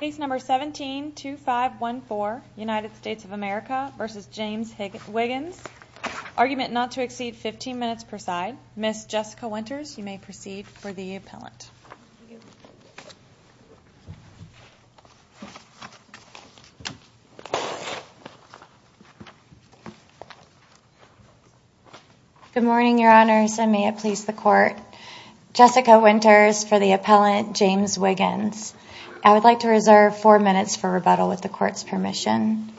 Case number 17-2514, United States of America v. James Wiggins. Argument not to exceed 15 minutes per side. Ms. Jessica Winters, you may proceed for the appellant. Good morning, Your Honors, and may it please the Court. Jessica Winters for the appellant, James Wiggins. I would like to reserve four minutes for rebuttal with the Court's permission.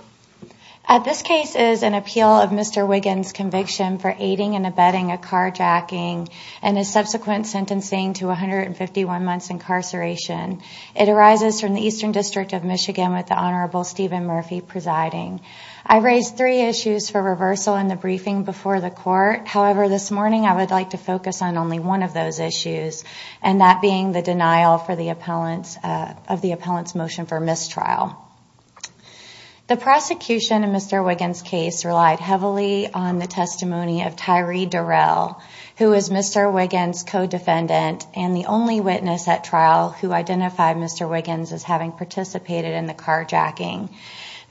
This case is an appeal of Mr. Wiggins' conviction for aiding and abetting a carjacking and his subsequent sentencing to 151 months incarceration. It arises from the Eastern District of Michigan with the Honorable Stephen Murphy presiding. I raised three issues for reversal in the briefing before the Court. However, this morning I would like to focus on only one of those issues, and that being the denial of the appellant's motion for mistrial. The prosecution in Mr. Wiggins' case relied heavily on the testimony of Tyree Durrell, who was Mr. Wiggins' co-defendant and the only witness at trial who identified Mr. Wiggins as having participated in the carjacking.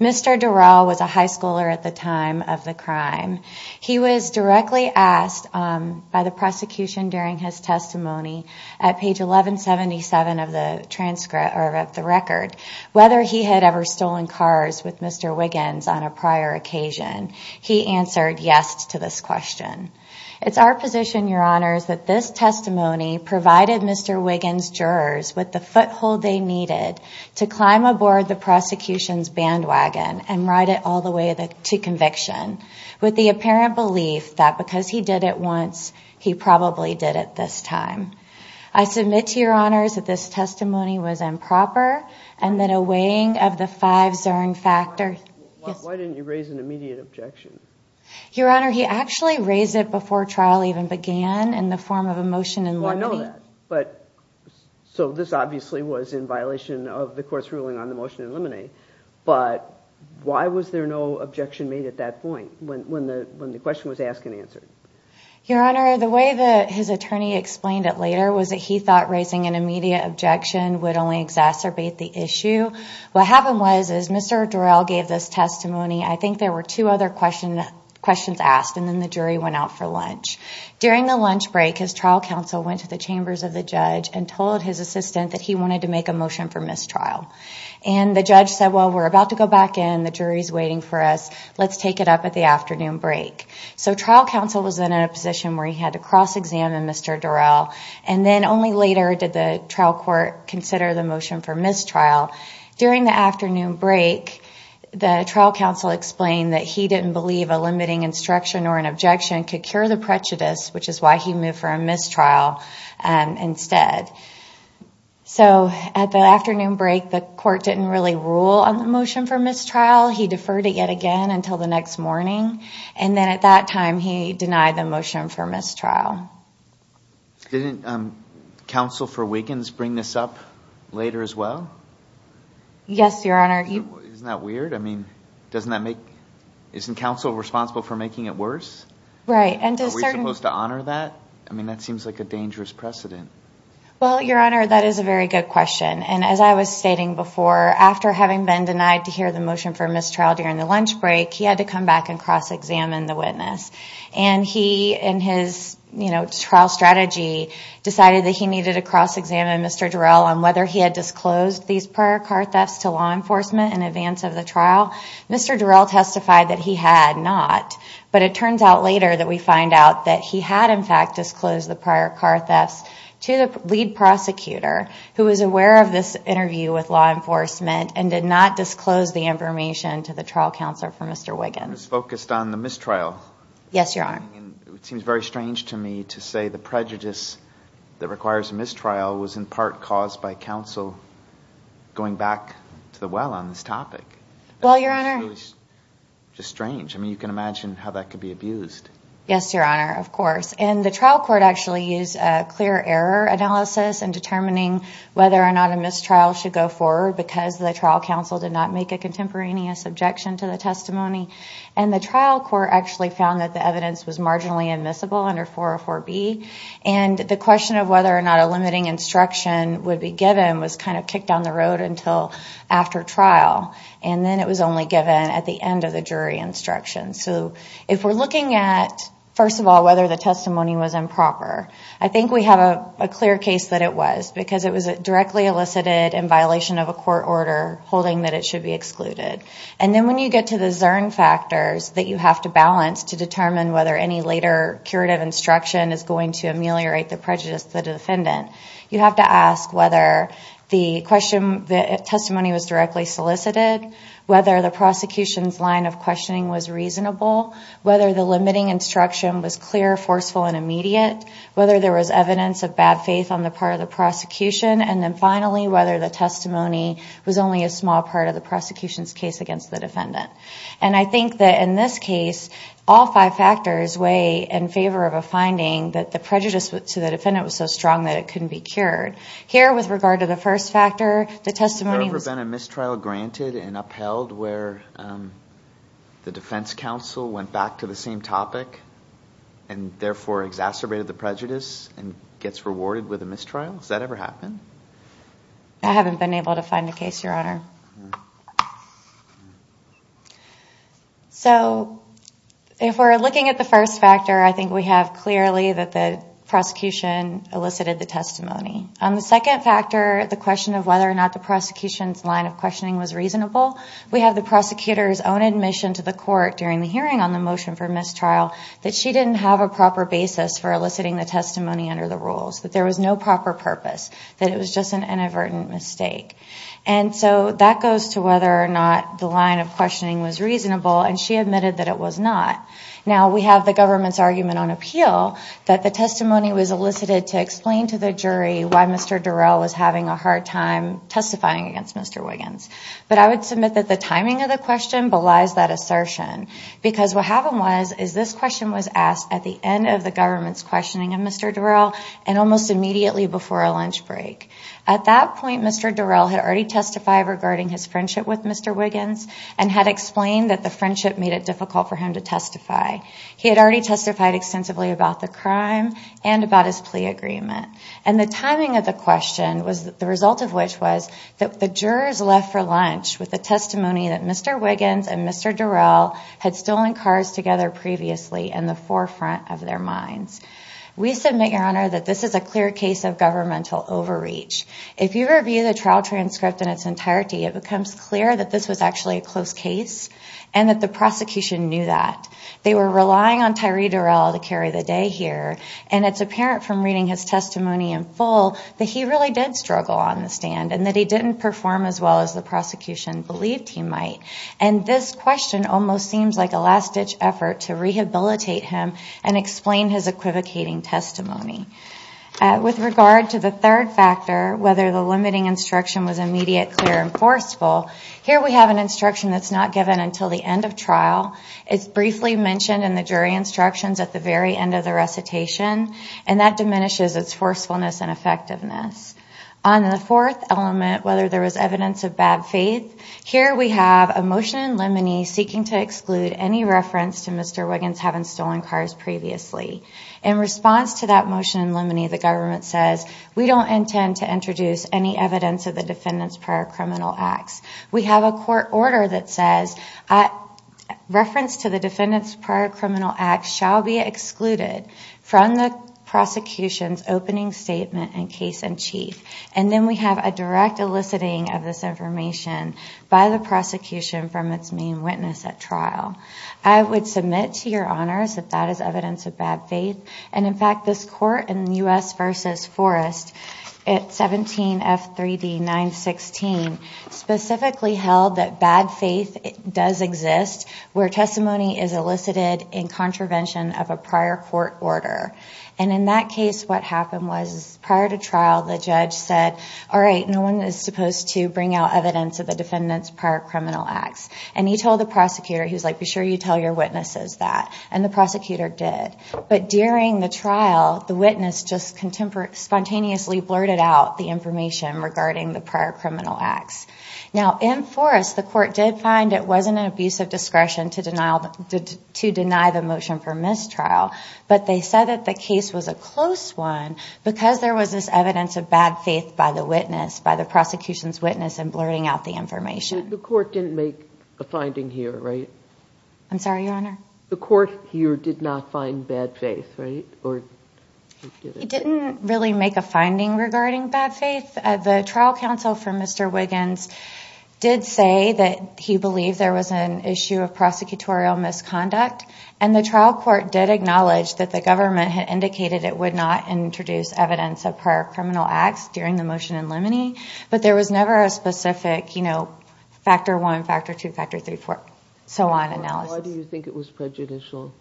Mr. Durrell was a high schooler at the time of the crime. He was directly asked by the prosecution during his testimony at page 1177 of the record whether he had ever stolen cars with Mr. Wiggins on a prior occasion. He answered yes to this question. It's our position, Your Honors, that this testimony provided Mr. Wiggins' jurors with the foothold they needed to climb aboard the prosecution's bandwagon and ride it all the way to conviction, with the apparent belief that because he did it once, he probably did it this time. I submit to Your Honors that this testimony was improper, and that a weighing of the fives earned factor... Why didn't you raise an immediate objection? Your Honor, he actually raised it before trial even began in the form of a motion in limine. Well, I know that. So this obviously was in violation of the Court's ruling on the motion in limine. But why was there no objection made at that point when the question was asked and answered? Your Honor, the way that his attorney explained it later was that he thought raising an immediate objection would only exacerbate the issue. What happened was, as Mr. Durrell gave this testimony, I think there were two other questions asked, and then the jury went out for lunch. During the lunch break, his trial counsel went to the chambers of the judge and told his assistant that he wanted to make a motion for mistrial. And the judge said, well, we're about to go back in, the jury's waiting for us, let's take it up at the afternoon break. So trial counsel was in a position where he had to cross-examine Mr. Durrell, and then only later did the trial court consider the motion for mistrial. During the afternoon break, the trial counsel explained that he didn't believe a limiting instruction or an objection could cure the prejudice, which is why he moved for a mistrial instead. So at the afternoon break, the court didn't really rule on the motion for mistrial. He deferred it yet again until the next morning, and then at that time he denied the motion for mistrial. Didn't counsel for Wiggins bring this up later as well? Yes, Your Honor. Isn't that weird? I mean, isn't counsel responsible for making it worse? Right. Are we supposed to honor that? I mean, that seems like a dangerous precedent. Well, Your Honor, that is a very good question. And as I was stating before, after having been denied to hear the motion for mistrial during the lunch break, he had to come back and cross-examine the witness. And he, in his trial strategy, decided that he needed to cross-examine Mr. Durrell on whether he had disclosed these prior car thefts to law enforcement in advance of the trial. Mr. Durrell testified that he had not, but it turns out later that we find out that he had, in fact, disclosed the prior car thefts to the lead prosecutor, who was aware of this interview with law enforcement and did not disclose the information to the trial counselor for Mr. Wiggins. It was focused on the mistrial. Yes, Your Honor. It seems very strange to me to say the prejudice that requires a mistrial was in part caused by counsel going back to the well on this topic. Well, Your Honor. It's really just strange. I mean, you can imagine how that could be abused. Yes, Your Honor. Of course. And the trial court actually used a clear error analysis in determining whether or not a mistrial should go forward because the trial counsel did not make a contemporaneous objection to the testimony. And the trial court actually found that the evidence was marginally admissible under 404B. And the question of whether or not a limiting instruction would be given was kind of kicked down the road until after trial. And then it was only given at the end of the jury instruction. So if we're looking at, first of all, whether the testimony was improper, I think we have a clear case that it was because it was directly elicited in violation of a court order holding that it should be excluded. And then when you get to the Zern factors that you have to balance to determine whether any later curative instruction is going to ameliorate the prejudice of the defendant, you have to ask whether the testimony was directly solicited, whether the prosecution's line of questioning was reasonable, whether the limiting instruction was clear, forceful, and immediate, whether there was evidence of bad faith on the part of the prosecution, and then finally whether the testimony was only a small part of the prosecution's case against the defendant. And I think that in this case, all five factors weigh in favor of a finding that the prejudice to the defendant was so strong that it couldn't be cured. Here, with regard to the first factor, the testimony was... Has there ever been a mistrial granted and upheld where the defense counsel went back to the same topic and therefore exacerbated the prejudice and gets rewarded with a mistrial? Has that ever happened? I haven't been able to find a case, Your Honor. So if we're looking at the first factor, I think we have clearly that the prosecution elicited the testimony. On the second factor, the question of whether or not the prosecution's line of questioning was reasonable, we have the prosecutor's own admission to the court during the hearing on the motion for mistrial that she didn't have a proper basis for eliciting the testimony under the rules, that there was no proper purpose, that it was just an inadvertent mistake. And so that goes to whether or not the line of questioning was reasonable, and she admitted that it was not. Now, we have the government's argument on appeal that the testimony was elicited to explain to the jury why Mr. Durrell was having a hard time testifying against Mr. Wiggins. But I would submit that the timing of the question belies that assertion because what happened was, is this question was asked at the end of the government's questioning of Mr. Durrell and almost immediately before a lunch break. At that point, Mr. Durrell had already testified regarding his friendship with Mr. Wiggins and had explained that the friendship made it difficult for him to testify. He had already testified extensively about the crime and about his plea agreement. And the timing of the question, the result of which was that the jurors left for lunch with the testimony that Mr. Wiggins and Mr. Durrell had stolen cars together previously in the forefront of their minds. We submit, Your Honor, that this is a clear case of governmental overreach. If you review the trial transcript in its entirety, it becomes clear that this was actually a close case and that the prosecution knew that. They were relying on Tyree Durrell to carry the day here and it's apparent from reading his testimony in full that he really did struggle on the stand and that he didn't perform as well as the prosecution believed he might. And this question almost seems like a last-ditch effort to rehabilitate him and explain his equivocating testimony. With regard to the third factor, whether the limiting instruction was immediate, clear, and forceful, here we have an instruction that's not given until the end of trial. It's briefly mentioned in the jury instructions at the very end of the recitation and that diminishes its forcefulness and effectiveness. On the fourth element, whether there was evidence of bad faith, here we have a motion in limine seeking to exclude any reference to Mr. Wiggins having stolen cars previously. In response to that motion in limine, the government says, we don't intend to introduce any evidence of the defendant's prior criminal acts. We have a court order that says, reference to the defendant's prior criminal acts shall be excluded from the prosecution's opening statement in case in chief. And then we have a direct eliciting of this information by the prosecution from its main witness at trial. I would submit to your honors that that is evidence of bad faith and, in fact, this court in U.S. v. Forrest at 17 F3D 916 specifically held that bad faith does exist where testimony is elicited in contravention of a prior court order. And in that case, what happened was prior to trial, the judge said, all right, no one is supposed to bring out evidence of the defendant's prior criminal acts. And he told the prosecutor, he was like, be sure you tell your witnesses that. And the prosecutor did. But during the trial, the witness just spontaneously blurted out the information regarding the prior criminal acts. Now, in Forrest, the court did find it wasn't an abuse of discretion to deny the motion for mistrial, but they said that the case was a close one because there was this evidence of bad faith by the witness, by the prosecution's witness in blurting out the information. I'm sorry, your honor? The court here did not find bad faith, right? It didn't really make a finding regarding bad faith. The trial counsel for Mr. Wiggins did say that he believed there was an issue of prosecutorial misconduct, and the trial court did acknowledge that the government had indicated it would not introduce evidence of prior criminal acts during the motion in limine, but there was never a specific, you know, factor one, factor two, factor three, four, so on analysis. Why do you think it was prejudicial?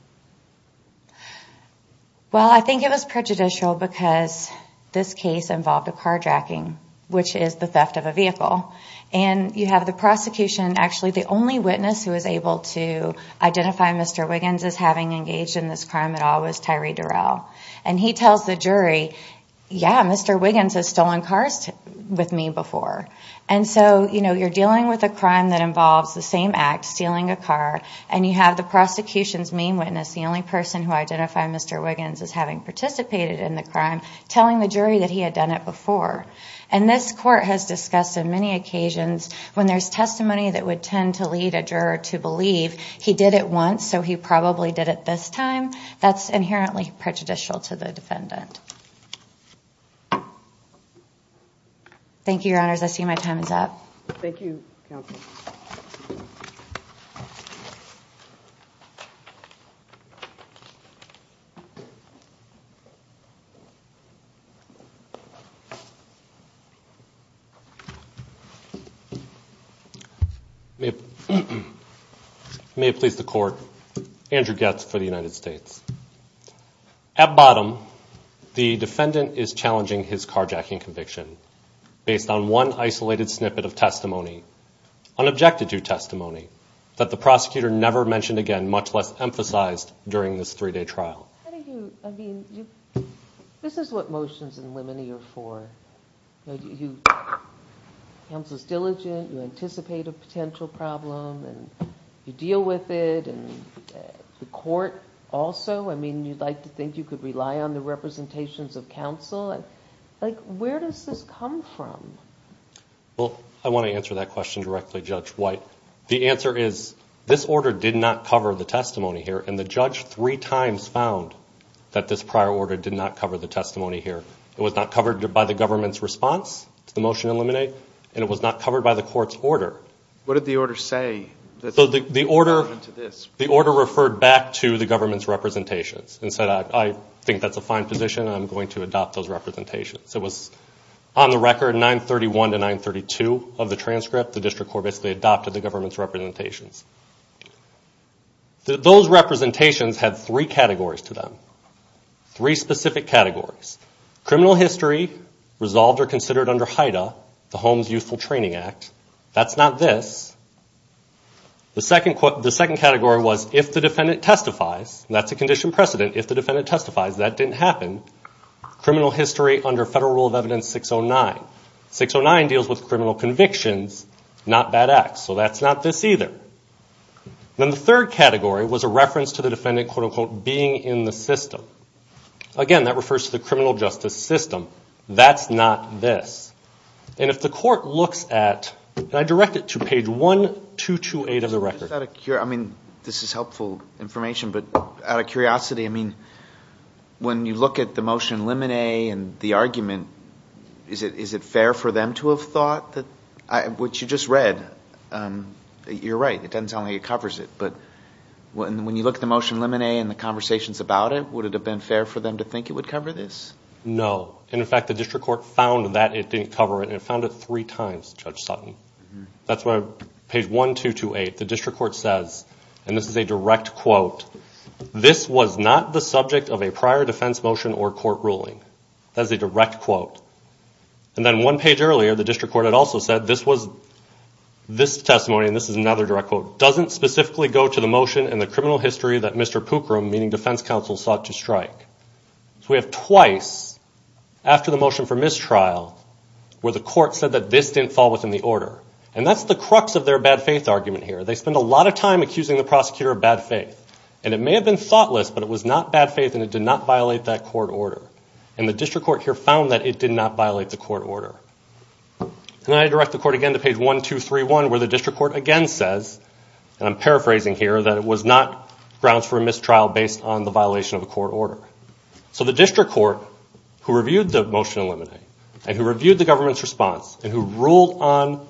Well, I think it was prejudicial because this case involved a carjacking, which is the theft of a vehicle. And you have the prosecution, actually the only witness who was able to identify Mr. Wiggins as having engaged in this crime at all was Tyree Durrell. And he tells the jury, yeah, Mr. Wiggins has stolen cars with me before. And so, you know, you're dealing with a crime that involves the same act, stealing a car, and you have the prosecution's main witness, the only person who identified Mr. Wiggins as having participated in the crime, telling the jury that he had done it before. And this court has discussed on many occasions when there's testimony that would tend to lead a juror to believe he did it once, so he probably did it this time, that's inherently prejudicial to the defendant. Thank you, Your Honors. I see my time is up. Thank you, Counsel. Thank you. May it please the Court, Andrew Goetz for the United States. At bottom, the defendant is challenging his carjacking conviction based on one isolated snippet of testimony, unobjected to testimony, that the prosecutor never mentioned again, much less emphasized during this three-day trial. How do you, I mean, this is what motions in limine are for. You know, counsel's diligent, you anticipate a potential problem, and you deal with it, and the court also, I mean, you'd like to think you could rely on the representations of counsel. Like, where does this come from? Well, I want to answer that question directly, Judge White. The answer is this order did not cover the testimony here, and the judge three times found that this prior order did not cover the testimony here. It was not covered by the government's response to the motion to eliminate, and it was not covered by the court's order. What did the order say? The order referred back to the government's representations and said, I think that's a fine position, I'm going to adopt those representations. It was on the record 931 to 932 of the transcript. The district court basically adopted the government's representations. Those representations had three categories to them, three specific categories. Criminal history resolved or considered under HIDTA, the Homes Useful Training Act. That's not this. The second category was if the defendant testifies, and that's a condition precedent, if the defendant testifies. That didn't happen. Criminal history under Federal Rule of Evidence 609. 609 deals with criminal convictions, not bad acts. So that's not this either. Then the third category was a reference to the defendant, quote, unquote, being in the system. Again, that refers to the criminal justice system. That's not this. And if the court looks at, and I direct it to page 1228 of the record. This is helpful information, but out of curiosity, when you look at the motion limine and the argument, is it fair for them to have thought, which you just read, you're right, it doesn't sound like it covers it. But when you look at the motion limine and the conversations about it, would it have been fair for them to think it would cover this? No. In fact, the district court found that it didn't cover it, and it found it three times, Judge Sutton. That's page 1228. The district court says, and this is a direct quote, this was not the subject of a prior defense motion or court ruling. That's a direct quote. And then one page earlier, the district court had also said this testimony, and this is another direct quote, doesn't specifically go to the motion and the criminal history that Mr. Pookrum, meaning defense counsel, sought to strike. So we have twice, after the motion for mistrial, where the court said that this didn't fall within the order. And that's the crux of their bad faith argument here. They spent a lot of time accusing the prosecutor of bad faith. And it may have been thoughtless, but it was not bad faith, and it did not violate that court order. And the district court here found that it did not violate the court order. And I direct the court again to page 1231, where the district court again says, and I'm paraphrasing here, that it was not grounds for a mistrial based on the violation of a court order. So the district court, who reviewed the motion in limine, and who reviewed the government's response, and who ruled on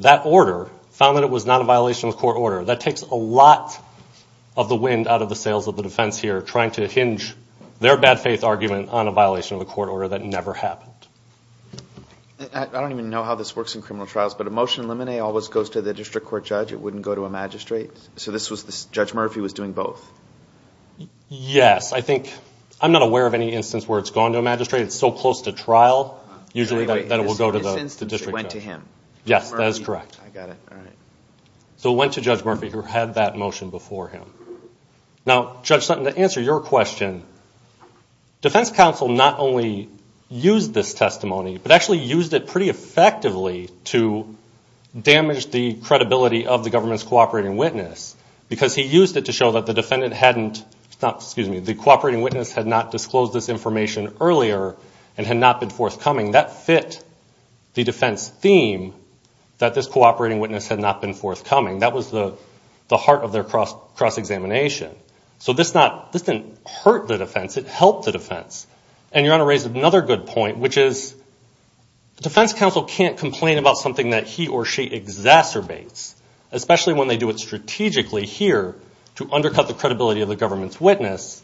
that order, found that it was not a violation of the court order. That takes a lot of the wind out of the sails of the defense here, trying to hinge their bad faith argument on a violation of a court order that never happened. I don't even know how this works in criminal trials, but a motion in limine always goes to the district court judge. It wouldn't go to a magistrate. So Judge Murphy was doing both. Yes, I think, I'm not aware of any instance where it's gone to a magistrate. It's so close to trial, usually that it will go to the district judge. It went to him. Yes, that is correct. I got it. So it went to Judge Murphy, who had that motion before him. Now, Judge Sutton, to answer your question, defense counsel not only used this testimony, but actually used it pretty effectively to damage the credibility of the government's cooperating witness, because he used it to show that the cooperating witness had not disclosed this information earlier and had not been forthcoming. That fit the defense theme, that this cooperating witness had not been forthcoming. That was the heart of their cross-examination. So this didn't hurt the defense. It helped the defense. And you're going to raise another good point, which is defense counsel can't complain about something that he or she exacerbates, especially when they do it strategically here to undercut the credibility of the government's witness.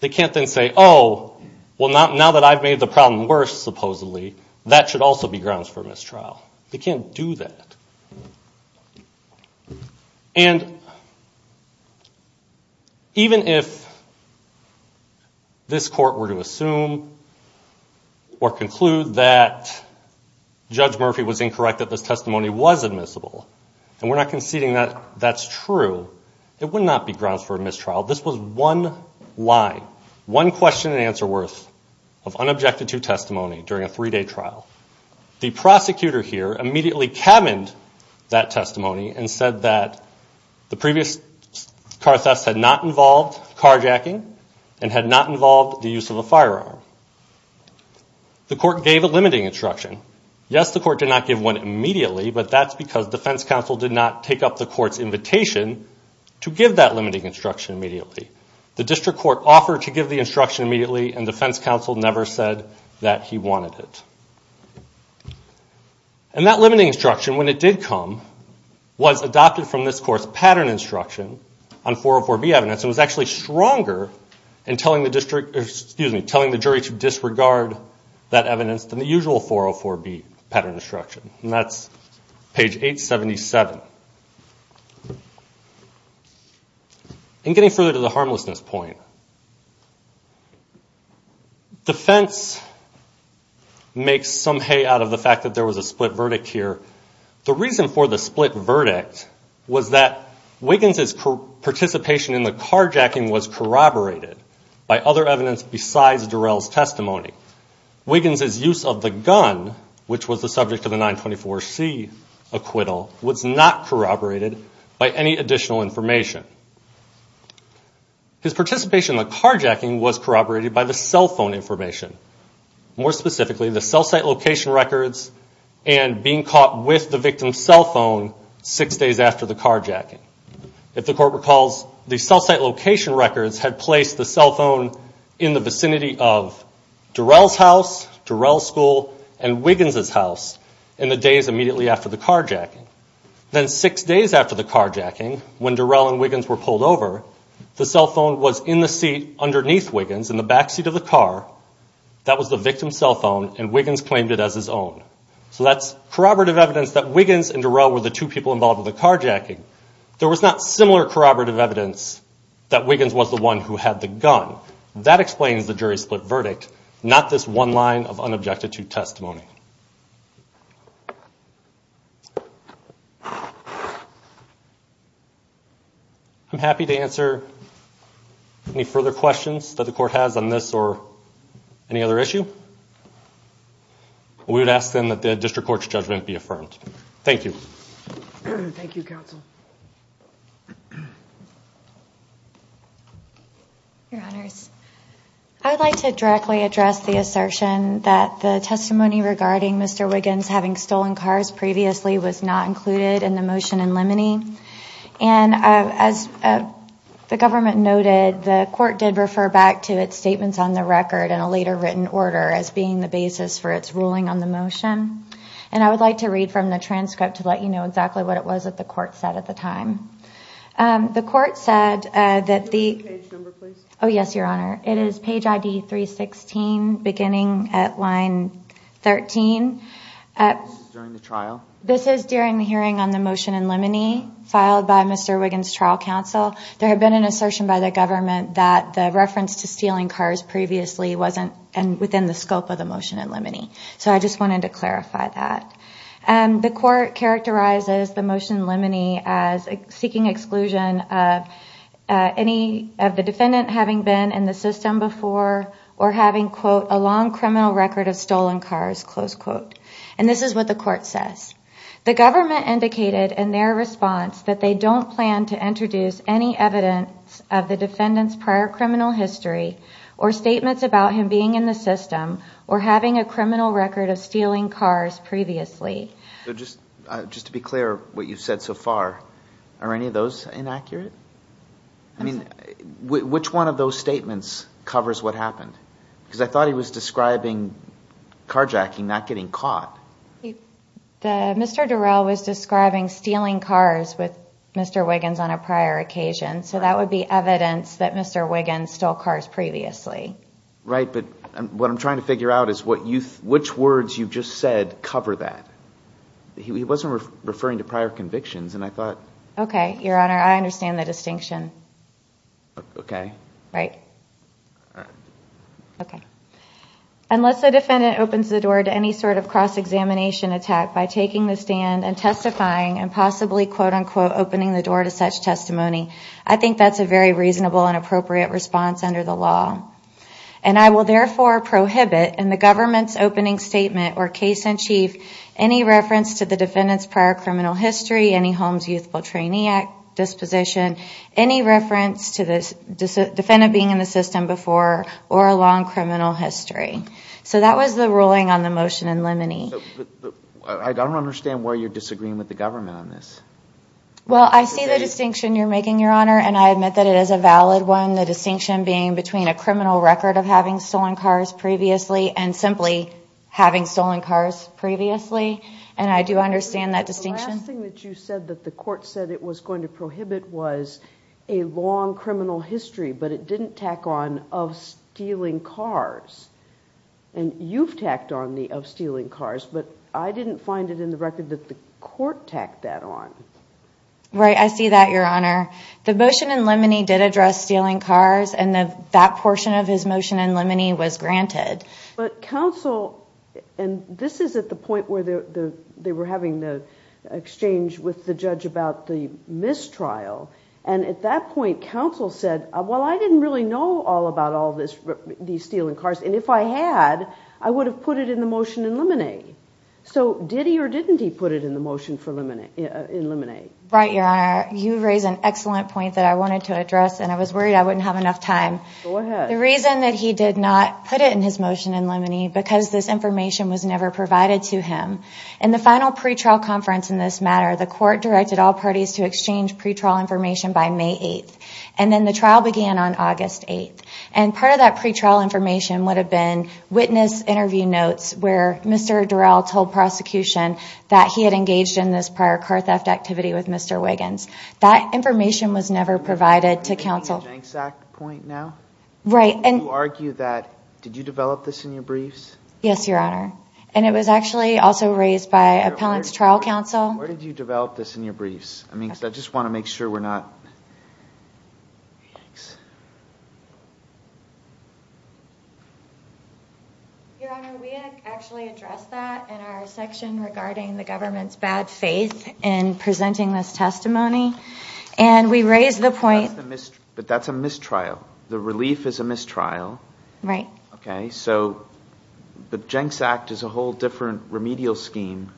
They can't then say, oh, well, now that I've made the problem worse, supposedly, that should also be grounds for mistrial. They can't do that. And even if this court were to assume or conclude that Judge Murphy was incorrect, that this testimony was admissible, and we're not conceding that that's true, it would not be grounds for mistrial. This was one line, one question and answer worth of unobjected to testimony during a three-day trial. The prosecutor here immediately cabined that testimony and said that the previous car thefts had not involved carjacking and had not involved the use of a firearm. The court gave a limiting instruction. Yes, the court did not give one immediately, but that's because defense counsel did not take up the court's invitation to give that limiting instruction immediately. The district court offered to give the instruction immediately, and defense counsel never said that he wanted it. And that limiting instruction, when it did come, was adopted from this court's pattern instruction on 404B evidence and was actually stronger in telling the jury to disregard that evidence than the usual 404B pattern instruction. And that's page 877. And getting further to the harmlessness point, defense makes some hay out of the fact that there was a split verdict here. The reason for the split verdict was that Wiggins' participation in the carjacking was corroborated by other evidence besides Durrell's testimony. Wiggins' use of the gun, which was the subject of the 924C acquittal, was not corroborated by any additional information. His participation in the carjacking was corroborated by the cell phone information, more specifically, the cell site location records and being caught with the victim's cell phone six days after the carjacking. If the court recalls, the cell site location records had placed the cell phone in the vicinity of Durrell's house, Durrell's school, and Wiggins' house in the days immediately after the carjacking. Then six days after the carjacking, when Durrell and Wiggins were pulled over, the cell phone was in the seat underneath Wiggins, in the backseat of the car. That was the victim's cell phone, and Wiggins claimed it as his own. So that's corroborative evidence that Wiggins and Durrell were the two people involved in the carjacking. There was not similar corroborative evidence that Wiggins was the one who had the gun. That explains the jury split verdict, not this one line of unobjected to testimony. I'm happy to answer any further questions that the court has on this or any other issue. We would ask, then, that the district court's judgment be affirmed. Thank you. Thank you, counsel. Your Honors, I would like to directly address the assertion that the testimony regarding Mr. Wiggins having stolen cars previously was not included in the motion in limine. And as the government noted, the court did refer back to its statements on the record in a later written order as being the basis for its ruling on the motion. And I would like to read from the transcript to let you know exactly what it was that the court said at the time. The court said that the... This is during the hearing on the motion in limine filed by Mr. Wiggins' trial counsel. There had been an assertion by the government that the reference to stealing cars previously wasn't within the scope of the motion in limine. So I just wanted to clarify that. The court characterizes the motion in limine as seeking exclusion of any of the defendant having been in the system before or having, quote, a long criminal record of stolen cars, close quote. And this is what the court says. The government indicated in their response that they don't plan to introduce any evidence of the defendant's prior criminal history or statements about him being in the system or having a criminal record of stealing cars previously. So just to be clear, what you've said so far, are any of those inaccurate? I mean, which one of those statements covers what happened? Because I thought he was describing carjacking, not getting caught. Mr. Durrell was describing stealing cars with Mr. Wiggins on a prior occasion. So that would be evidence that Mr. Wiggins stole cars previously. Right, but what I'm trying to figure out is which words you just said cover that. He wasn't referring to prior convictions, and I thought... Okay, Your Honor, I understand the distinction. Unless a defendant opens the door to any sort of cross-examination attack by taking the stand and testifying and possibly, quote, unquote, opening the door to such testimony, I think that's a very reasonable and appropriate response under the law. And I will therefore prohibit in the government's opening statement or case in chief any reference to the defendant's prior criminal history, any Holmes Youthful Trainee Act disposition, any reference to the defendant being in the system before or a long criminal history. So that was the ruling on the motion in limine. I don't understand why you're disagreeing with the government on this. Well, I see the distinction you're making, Your Honor, and I admit that it is a valid one, the distinction being between a criminal record of having stolen cars previously and simply having stolen cars previously, and I do understand that distinction. The last thing that you said that the court said it was going to prohibit was a long criminal history, but it didn't tack on of stealing cars. And you've tacked on the of stealing cars, but I didn't find it in the record that the court tacked that on. Right, I see that, Your Honor. The motion in limine did address stealing cars, and that portion of his motion in limine was granted. But counsel, and this is at the point where they were having the exchange with the judge about the mistrial, and at that point, counsel said, well, I didn't really know all about all these stealing cars, and if I had, I would have put it in the motion in limine. So did he or didn't he put it in the motion in limine? Right, Your Honor, you raise an excellent point that I wanted to address, and I was worried I wouldn't have enough time. Go ahead. The reason that he did not put it in his motion in limine, because this information was never provided to him, in the final pretrial conference in this matter, the court directed all parties to exchange pretrial information by May 8th, and then the trial began on August 8th. And part of that pretrial information would have been witness interview notes where Mr. Durell told prosecution that he had engaged in this prior car theft activity with Mr. Wiggins. That information was never provided to counsel. Right. And you argue that, did you develop this in your briefs? Yes, Your Honor, and it was actually also raised by appellant's trial counsel. Where did you develop this in your briefs? I just want to make sure we're not... Your Honor, we actually addressed that in our section regarding the government's bad faith in presenting this testimony, and we raised the point... But that's a mistrial. The relief is a mistrial. The Jenks Act is a whole different remedial scheme.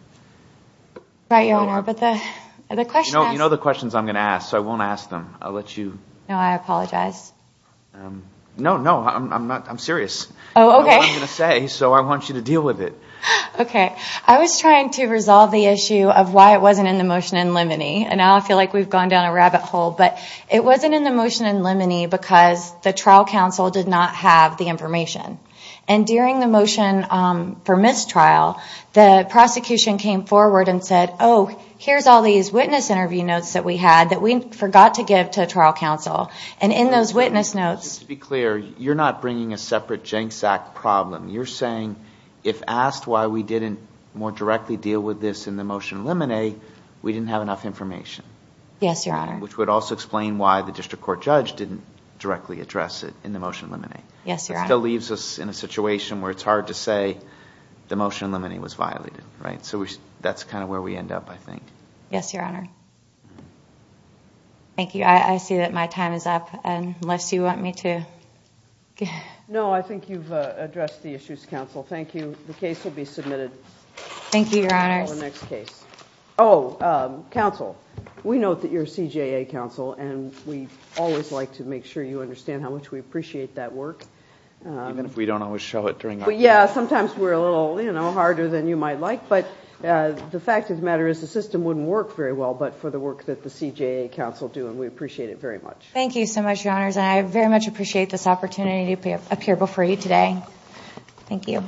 Right, Your Honor, but the question... You know the questions I'm going to ask, so I won't ask them. I'll let you... No, I apologize. No, no, I'm serious. I know what I'm going to say, so I want you to deal with it. Okay, I was trying to resolve the issue of why it wasn't in the motion in limine. And now I feel like we've gone down a rabbit hole, but it wasn't in the motion in limine because the trial counsel did not have the information. And during the motion for mistrial, the prosecution came forward and said, oh, here's all these witness interview notes that we had that we forgot to give to trial counsel. And in those witness notes... Just to be clear, you're not bringing a separate Jenks Act problem. You're saying if asked why we didn't more directly deal with this in the motion in limine, we didn't have enough information. Yes, Your Honor. Which would also explain why the district court judge didn't directly address it in the motion in limine. Yes, Your Honor. It still leaves us in a situation where it's hard to say the motion in limine was violated. So that's kind of where we end up, I think. Yes, Your Honor. Thank you. I see that my time is up, unless you want me to... No, I think you've addressed the issues, counsel. Thank you. The case will be submitted. Thank you, Your Honor. Oh, counsel, we know that you're CJA counsel, and we always like to make sure you understand how much we appreciate that work. Even if we don't always show it during our... Yeah, sometimes we're a little harder than you might like, but the fact of the matter is the system wouldn't work very well but for the work that the CJA counsel do, and we appreciate it very much. Thank you so much, Your Honors, and I very much appreciate this opportunity to appear before you today. Thank you.